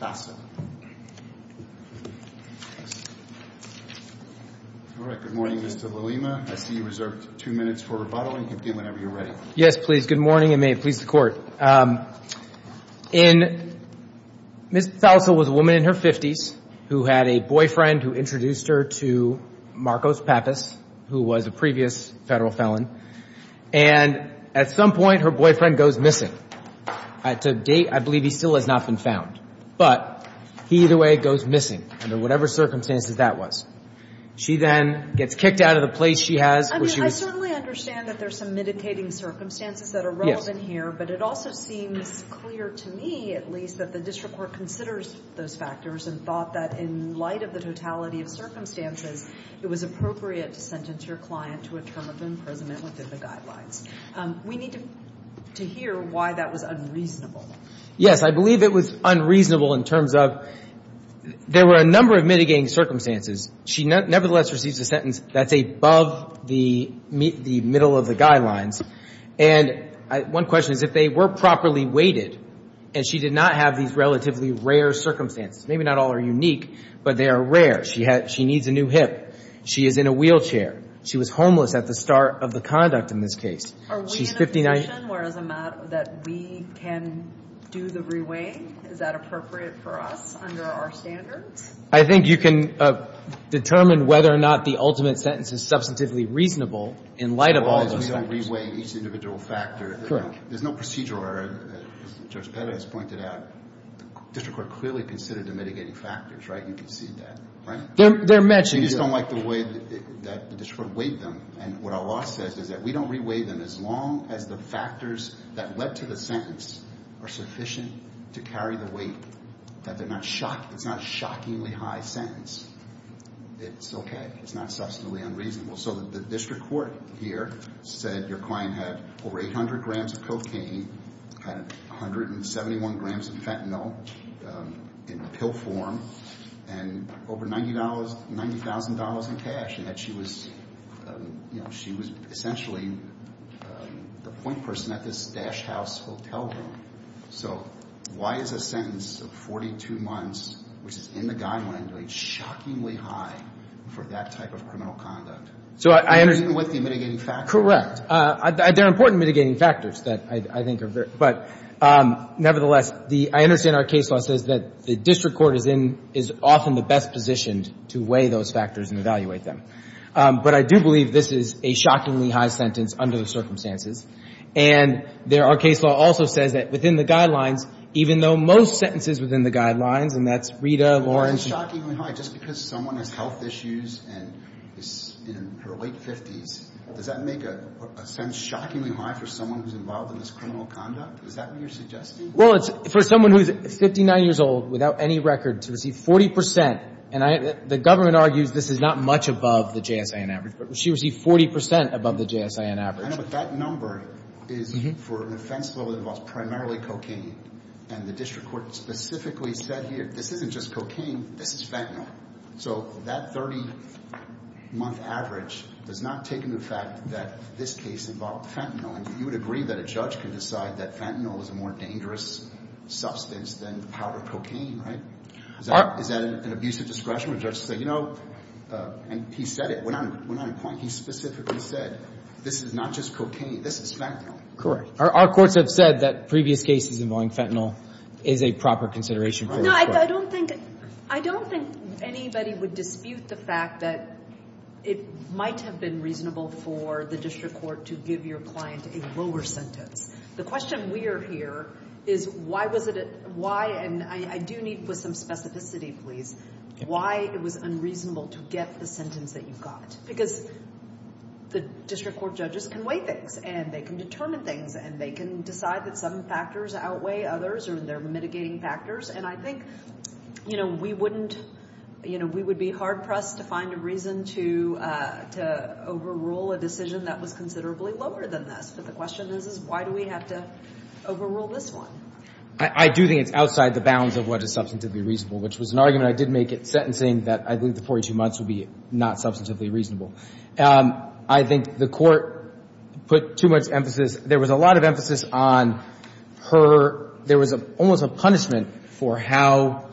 All right. Good morning, Mr. Valima. I see you reserved two minutes for rebuttal. You can begin whenever you're ready. Yes, please. Good morning, and may it please the Court. Ms. Fausel was a woman in her 50s who had a boyfriend who introduced her to Marcos Pappas, who was a previous federal felon. And at some point, her boyfriend goes missing. To date, I believe he still has not been found. But he either way goes missing, under whatever circumstances that was. She then gets kicked out of the place she has where she was. I mean, I certainly understand that there's some mitigating circumstances that are relevant here. But it also seems clear to me, at least, that the district court considers those factors and thought that in light of the totality of circumstances, it was appropriate to sentence your client to a term of imprisonment within the guidelines. We need to hear why that was unreasonable. Yes, I believe it was unreasonable in terms of there were a number of mitigating circumstances. She nevertheless receives a sentence that's above the middle of the guidelines. And one question is if they were properly weighted, and she did not have these relatively rare circumstances. Maybe not all are unique, but they are rare. She needs a new hip. She is in a wheelchair. She was homeless at the start of the conduct in this case. Are we in a position where it's a matter that we can do the reweighing? Is that appropriate for us under our standards? I think you can determine whether or not the ultimate sentence is substantively reasonable in light of all those factors. As long as we don't reweigh each individual factor. Correct. There's no procedure where, as Judge Perez pointed out, the district court clearly considered the mitigating factors, right? You can see that, right? They're matching. They just don't like the way that the district court weighed them. And what our law says is that we don't reweigh them as long as the factors that led to the sentence are sufficient to carry the weight. It's not a shockingly high sentence. It's okay. It's not substantively unreasonable. So the district court here said your client had over 800 grams of cocaine, 171 grams of fentanyl in pill form, and over $90,000 in cash, and that she was essentially the point person at this Dash House hotel room. So why is a sentence of 42 months, which is in the guideline, doing shockingly high for that type of criminal conduct, even with the mitigating factors? Correct. They're important mitigating factors that I think are very – but nevertheless, I understand our case law says that the district court is often the best positioned to weigh those factors and evaluate them. But I do believe this is a shockingly high sentence under the circumstances. And there – our case law also says that within the guidelines, even though most sentences within the guidelines, and that's Rita, Lawrence – But why is it shockingly high? Just because someone has health issues and is in her late 50s, does that make a sentence shockingly high for someone who's involved in this criminal conduct? Is that what you're suggesting? Well, it's for someone who's 59 years old, without any record, to receive 40 percent. And I – the government argues this is not much above the JSAN average. But she received 40 percent above the JSAN average. I know, but that number is for an offense that involves primarily cocaine. And the district court specifically said here, this isn't just cocaine. This is fentanyl. So that 30-month average does not take into fact that this case involved fentanyl. And you would agree that a judge can decide that fentanyl is a more dangerous substance than powdered cocaine, right? Is that an abusive discretion where a judge can say, you know – and he said it. When on a point, he specifically said, this is not just cocaine. This is fentanyl. Our courts have said that previous cases involving fentanyl is a proper consideration for this court. No, I don't think – I don't think anybody would dispute the fact that it might have been reasonable for the district court to give your client a lower sentence. The question we are here is why was it – why – and I do need some specificity, please. Why it was unreasonable to get the sentence that you got. Because the district court judges can weigh things, and they can determine things, and they can decide that some factors outweigh others or they're mitigating factors. And I think, you know, we wouldn't – you know, we would be hard-pressed to find a reason to overrule a decision that was considerably lower than this. But the question is, is why do we have to overrule this one? I do think it's outside the bounds of what is substantively reasonable, which was an argument I did make at sentencing that I believe the 42 months would be not substantively reasonable. I think the court put too much emphasis – there was a lot of emphasis on her – there was almost a punishment for how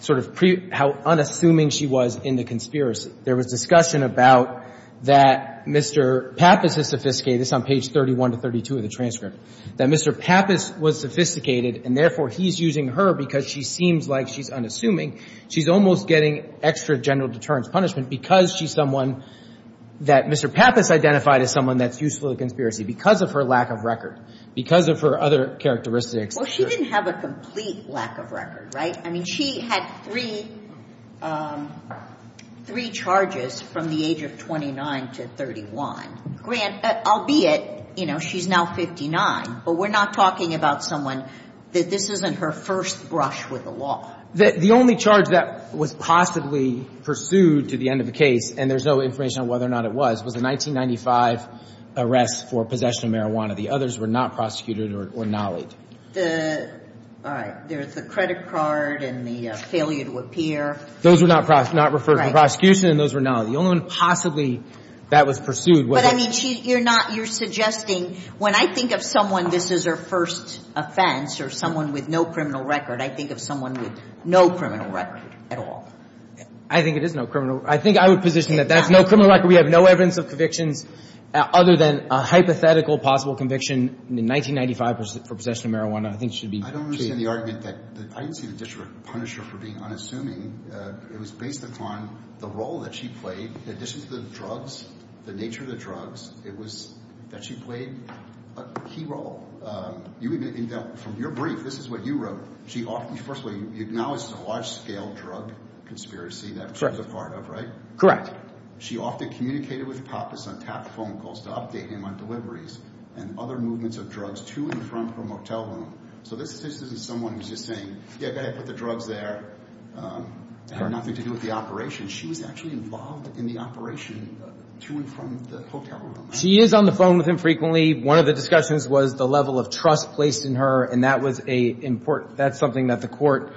sort of – how unassuming she was in the conspiracy. There was discussion about that Mr. Pappas is sophisticated. This is on page 31 to 32 of the transcript. That Mr. Pappas was sophisticated, and therefore he's using her because she seems like she's unassuming. She's almost getting extra general deterrence punishment because she's someone that Mr. Pappas identified as someone that's useful to the conspiracy because of her lack of record, because of her other characteristics. Well, she didn't have a complete lack of record, right? I mean, she had three – three charges from the age of 29 to 31. Grant, albeit, you know, she's now 59, but we're not talking about someone – this isn't her first brush with the law. The only charge that was possibly pursued to the end of the case, and there's no information on whether or not it was, was the 1995 arrest for possession of marijuana. The others were not prosecuted or nullied. The – all right. There's the credit card and the failure to appear. Those were not referred to the prosecution, and those were nullied. The only one possibly that was pursued was – But, I mean, you're not – you're suggesting – when I think of someone, this is her first offense or someone with no criminal record, I think of someone with no criminal record at all. I think it is no criminal – I think I would position that that's no criminal record. We have no evidence of convictions other than a hypothetical possible conviction in 1995 for possession of marijuana. I think it should be – I don't understand the argument that – I didn't see the district punisher for being unassuming. It was based upon the role that she played. In addition to the drugs, the nature of the drugs, it was that she played a key role. You even – from your brief, this is what you wrote. She often – first of all, you acknowledge this is a large-scale drug conspiracy that she was a part of, right? Correct. She often communicated with Pappas on tap phone calls to update him on deliveries and other movements of drugs to and from her motel room. So this isn't someone who's just saying, yeah, go ahead, put the drugs there. It had nothing to do with the operation. She was actually involved in the operation to and from the motel room. She is on the phone with him frequently. One of the discussions was the level of trust placed in her, and that was a – that's something that the court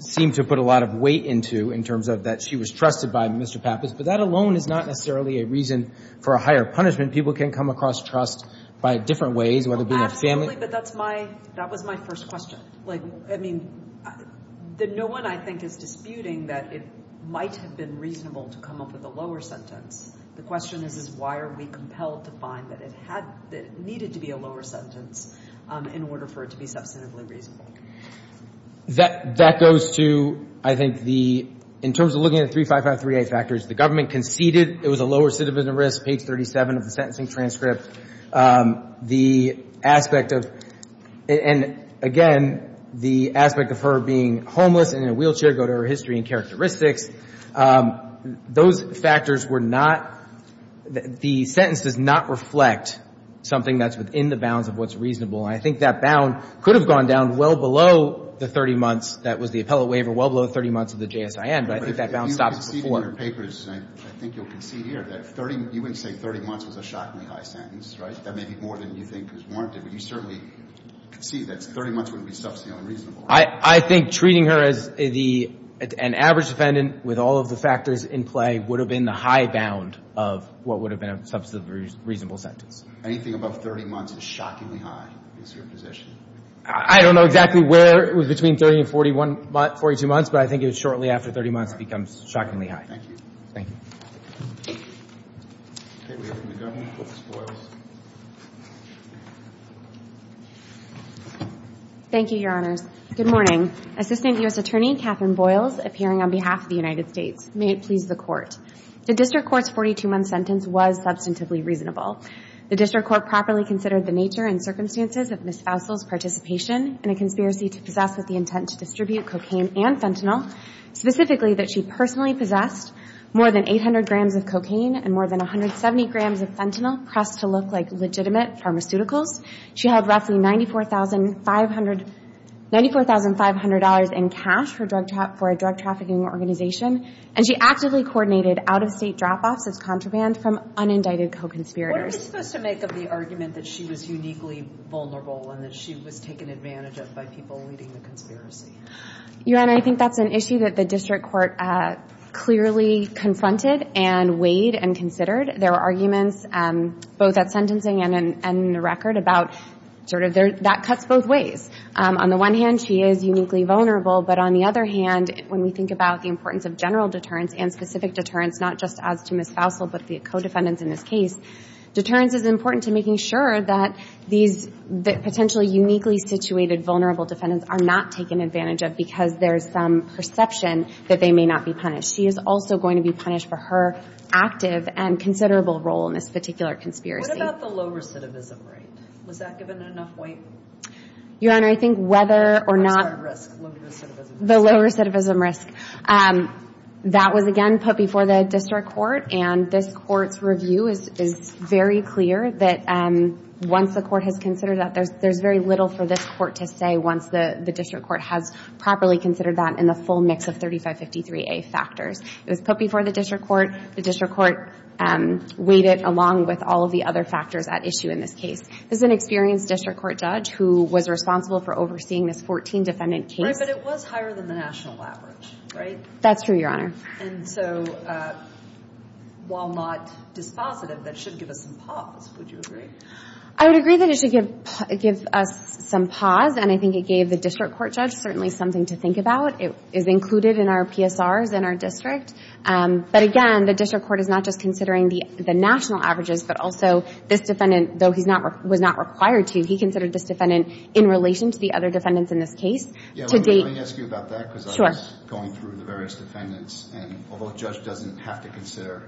seemed to put a lot of weight into in terms of that she was trusted by Mr. Pappas. But that alone is not necessarily a reason for a higher punishment. People can come across trust by different ways, whether it be their family. Exactly, but that's my – that was my first question. Like, I mean, no one I think is disputing that it might have been reasonable to come up with a lower sentence. The question is, is why are we compelled to find that it had – that it needed to be a lower sentence in order for it to be substantively reasonable? That goes to, I think, the – in terms of looking at the 3553A factors, the government conceded it was a lower citizen risk, page 37 of the sentencing transcript. The aspect of – and again, the aspect of her being homeless and in a wheelchair go to her history and characteristics. Those factors were not – the sentence does not reflect something that's within the bounds of what's reasonable. And I think that bound could have gone down well below the 30 months that was the appellate waiver, well below the 30 months of the JSIN, but I think that bound stops before. In one of her papers, I think you'll concede here that 30 – you wouldn't say 30 months was a shockingly high sentence, right? That may be more than you think is warranted, but you certainly concede that 30 months wouldn't be substantively reasonable. I think treating her as the – an average defendant with all of the factors in play would have been the high bound of what would have been a substantively reasonable sentence. Anything above 30 months is shockingly high is your position. I don't know exactly where it was between 30 and 41 – 42 months, but I think it was shortly after 30 months it becomes shockingly high. Thank you. Thank you, Your Honors. Good morning. Assistant U.S. Attorney Catherine Boyles, appearing on behalf of the United States. May it please the Court. The district court's 42-month sentence was substantively reasonable. The district court properly considered the nature and circumstances of Ms. Fousel's participation in a conspiracy to possess with the intent to distribute cocaine and fentanyl, specifically that she personally possessed more than 800 grams of cocaine and more than 170 grams of fentanyl pressed to look like legitimate pharmaceuticals. She held roughly $94,500 in cash for a drug trafficking organization, and she actively coordinated out-of-state drop-offs as contraband from unindicted co-conspirators. What are we supposed to make of the argument that she was uniquely vulnerable and that she was taken advantage of by people leading the conspiracy? Your Honor, I think that's an issue that the district court clearly confronted and weighed and considered. There were arguments both at sentencing and in the record about sort of that cuts both ways. On the one hand, she is uniquely vulnerable, but on the other hand, when we think about the importance of general deterrence and specific deterrence, not just as to Ms. Fousel but the co-defendants in this case, deterrence is important to making sure that these potentially uniquely situated vulnerable defendants are not taken advantage of because there is some perception that they may not be punished. She is also going to be punished for her active and considerable role in this particular conspiracy. What about the low recidivism rate? Was that given enough weight? Your Honor, I think whether or not— What's that risk, low recidivism risk? That was, again, put before the district court, and this court's review is very clear that once the court has considered that, there's very little for this court to say once the district court has properly considered that in the full mix of 3553A factors. It was put before the district court. The district court weighed it along with all of the other factors at issue in this case. This is an experienced district court judge who was responsible for overseeing this 14 defendant case. I'm sorry, but it was higher than the national average, right? That's true, Your Honor. And so while not dispositive, that should give us some pause, would you agree? I would agree that it should give us some pause, and I think it gave the district court judge certainly something to think about. It is included in our PSRs in our district. But again, the district court is not just considering the national averages, but also this defendant, though he was not required to, he considered this defendant in relation to the other defendants in this case to date. Yeah, let me ask you about that because I was going through the various defendants, and although a judge doesn't have to consider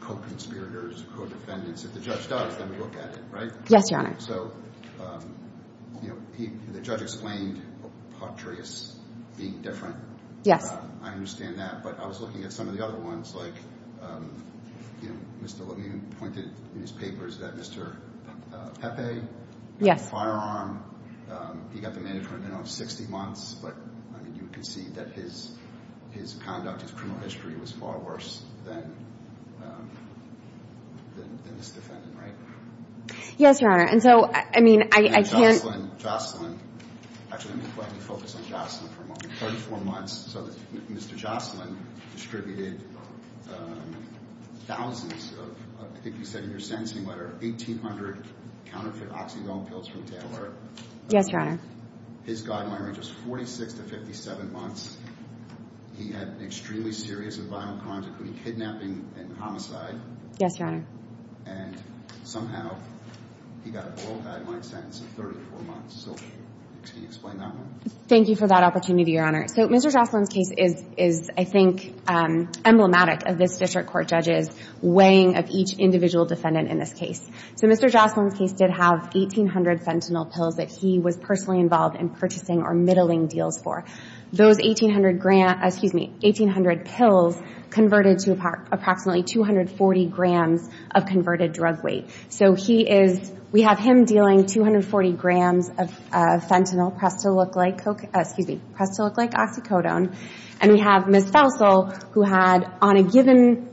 co-conspirators, co-defendants, if the judge does, then we look at it, right? Yes, Your Honor. So, you know, the judge explained Potraeus being different. Yes. I understand that, but I was looking at some of the other ones like, you know, Mr. Levin pointed in his papers that Mr. Pepe had a firearm. He got the management in on 60 months, but, I mean, you can see that his conduct, his criminal history was far worse than this defendant, right? Yes, Your Honor. And so, I mean, I can't. And Jocelyn, actually, let me focus on Jocelyn for a moment, 34 months. So Mr. Jocelyn distributed thousands of, I think you said in your sentencing letter, 1,800 counterfeit oxygen pills from Taylor. Yes, Your Honor. His guideline range was 46 to 57 months. He had extremely serious and violent crimes, including kidnapping and homicide. Yes, Your Honor. And somehow he got a parole guideline sentence of 34 months. So can you explain that one? Thank you for that opportunity, Your Honor. So Mr. Jocelyn's case is, I think, emblematic of this district court judge's defendant in this case. So Mr. Jocelyn's case did have 1,800 fentanyl pills that he was personally involved in purchasing or middling deals for. Those 1,800 pills converted to approximately 240 grams of converted drug weight. So we have him dealing 240 grams of fentanyl pressed to look like oxycodone, and we have Ms. Fausel who had, on a given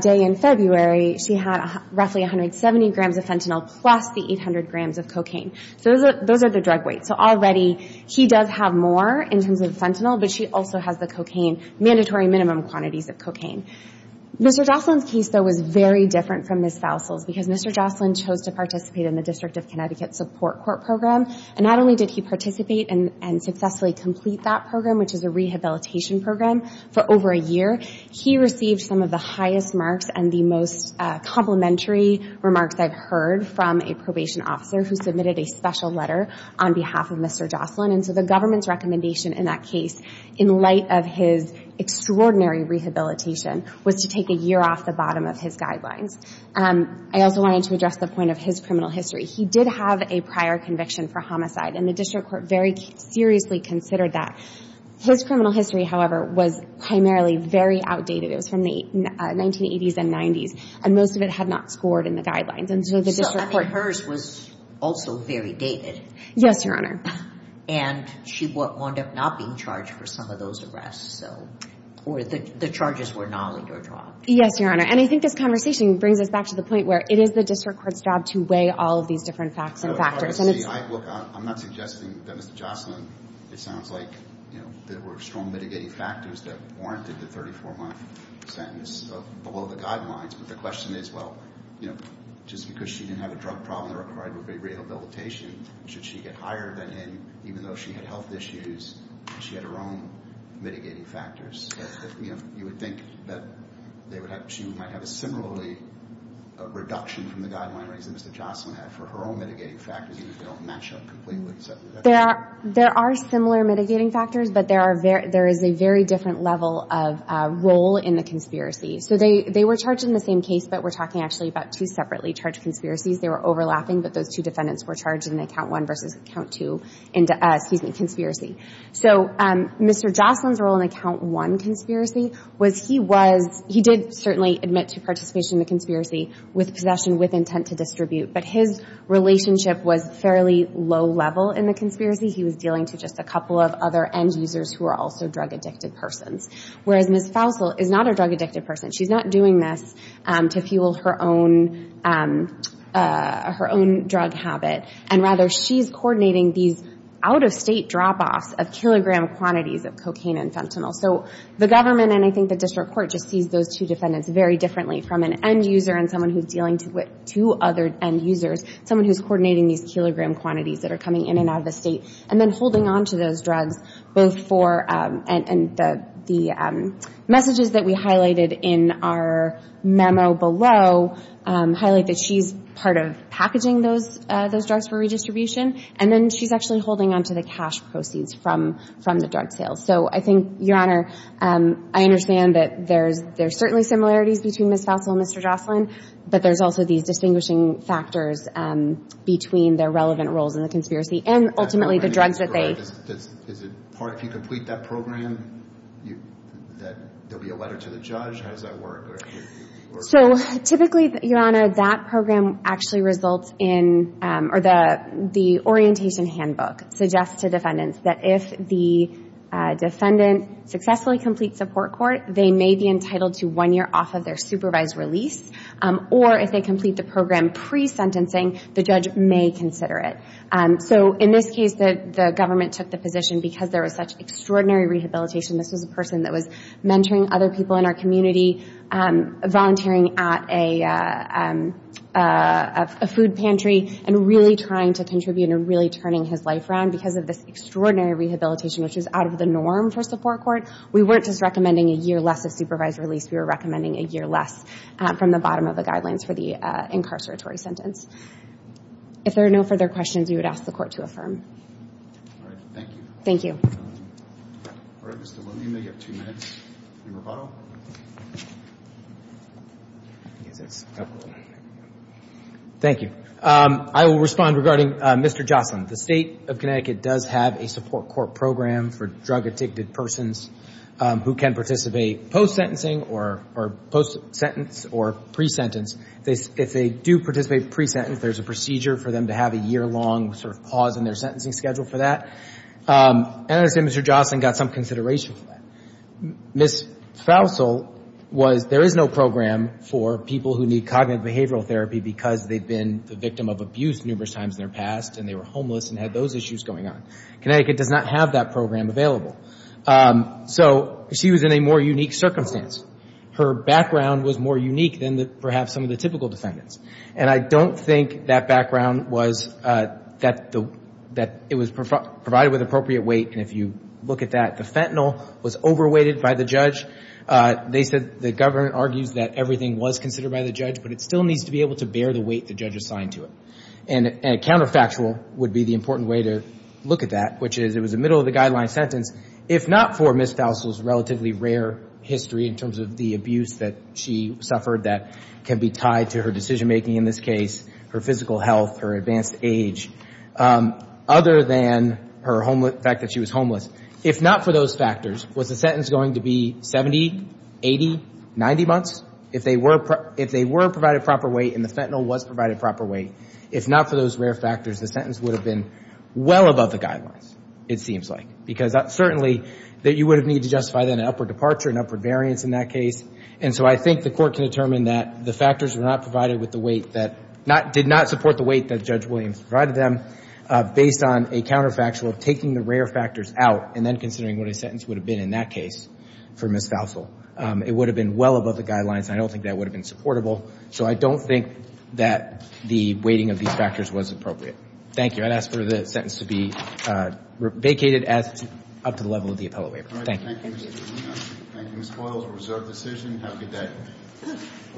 day in February, she had roughly 170 grams of fentanyl plus the 800 grams of cocaine. So those are the drug weights. So already he does have more in terms of fentanyl, but she also has the cocaine, mandatory minimum quantities of cocaine. Mr. Jocelyn's case, though, was very different from Ms. Fausel's because Mr. Jocelyn chose to participate in the District of Connecticut Support Court Program. And not only did he participate and successfully complete that program, which is a rehabilitation program, for over a year, he received some of the highest marks and the most complimentary remarks I've heard from a probation officer who submitted a special letter on behalf of Mr. Jocelyn. And so the government's recommendation in that case, in light of his extraordinary rehabilitation, was to take a year off the bottom of his guidelines. I also wanted to address the point of his criminal history. He did have a prior conviction for homicide, and the district court very seriously considered that. His criminal history, however, was primarily very outdated. It was from the 1980s and 90s, and most of it had not scored in the guidelines. So hers was also very dated. Yes, Your Honor. And she wound up not being charged for some of those arrests, or the charges were not let her drop. Yes, Your Honor. And I think this conversation brings us back to the point where it is the district court's job to weigh all of these different facts and factors. Look, I'm not suggesting that Mr. Jocelyn, it sounds like, you know, there were strong mitigating factors that warranted the 34-month sentence below the guidelines, but the question is, well, you know, just because she didn't have a drug problem that required rehabilitation, should she get higher than him even though she had health issues and she had her own mitigating factors? You would think that she might have a similarly reduction from the guideline rates that Mr. Jocelyn had for her own mitigating factors even if they don't match up completely. There are similar mitigating factors, but there is a very different level of role in the conspiracy. So they were charged in the same case, but we're talking actually about two separately charged conspiracies. They were overlapping, but those two defendants were charged in account one versus account two, excuse me, conspiracy. So Mr. Jocelyn's role in account one conspiracy was he was – he did certainly admit to participation in the conspiracy with possession with intent to distribute, but his relationship was fairly low level in the conspiracy. He was dealing to just a couple of other end users who were also drug-addicted persons, whereas Ms. Fausel is not a drug-addicted person. She's not doing this to fuel her own drug habit, and rather she's coordinating these out-of-state drop-offs of kilogram quantities of cocaine and fentanyl. So the government and I think the district court just sees those two defendants very differently from an end user and someone who's dealing with two other end users, someone who's coordinating these kilogram quantities that are coming in and out of the state and then holding on to those drugs both for – and the messages that we highlighted in our memo below highlight that she's part of packaging those drugs for redistribution, and then she's actually holding on to the cash proceeds from the drug sales. So I think, Your Honor, I understand that there's certainly similarities between Ms. Fausel and Mr. Jocelyn, but there's also these distinguishing factors between their relevant roles in the conspiracy and ultimately the drugs that they – Is it part – if you complete that program, there'll be a letter to the judge? How does that work? So typically, Your Honor, that program actually results in – or the orientation handbook suggests to defendants that if the defendant successfully completes support court, they may be entitled to one year off of their supervised release, or if they complete the program pre-sentencing, the judge may consider it. So in this case, the government took the position because there was such extraordinary rehabilitation. This was a person that was mentoring other people in our community, volunteering at a food pantry, and really trying to contribute and really turning his life around because of this extraordinary rehabilitation, which is out of the norm for support court. We weren't just recommending a year less of supervised release. We were recommending a year less from the bottom of the guidelines for the incarceratory sentence. If there are no further questions, we would ask the Court to affirm. All right. Thank you. Thank you. All right, Mr. Looney, you may have two minutes in rebuttal. Thank you. I will respond regarding Mr. Jocelyn. The State of Connecticut does have a support court program for drug-addicted persons who can participate post-sentencing or post-sentence or pre-sentence. If they do participate pre-sentence, there's a procedure for them to have a year-long sort of pause in their sentencing schedule for that. And I understand Mr. Jocelyn got some consideration for that. Ms. Fausel was – there is no program for people who need cognitive behavioral therapy because they've been the victim of abuse numerous times in their past and they were homeless and had those issues going on. Connecticut does not have that program available. So she was in a more unique circumstance. Her background was more unique than perhaps some of the typical defendants. And I don't think that background was – that it was provided with appropriate weight. And if you look at that, the fentanyl was over-weighted by the judge. They said – the government argues that everything was considered by the judge, but it still needs to be able to bear the weight the judge assigned to it. And a counterfactual would be the important way to look at that, which is it was a middle-of-the-guideline sentence, if not for Ms. Fausel's relatively rare history in terms of the abuse that she suffered that can be tied to her decision-making in this case, her physical health, her advanced age, other than her homeless – the fact that she was homeless. If not for those factors, was the sentence going to be 70, 80, 90 months? If they were provided proper weight and the fentanyl was provided proper weight, if not for those rare factors, the sentence would have been well above the guidelines, it seems like, because certainly you would have needed to justify then an upward departure, an upward variance in that case. And so I think the court can determine that the factors were not provided with the weight that – did not support the weight that Judge Williams provided them, based on a counterfactual of taking the rare factors out and then considering what a sentence would have been in that case for Ms. Fausel. It would have been well above the guidelines. I don't think that would have been supportable. So I don't think that the weighting of these factors was appropriate. Thank you. I'd ask for the sentence to be vacated up to the level of the appellate waiver. Thank you. Thank you, Ms. Fausel. It was a reserved decision. Have a good day.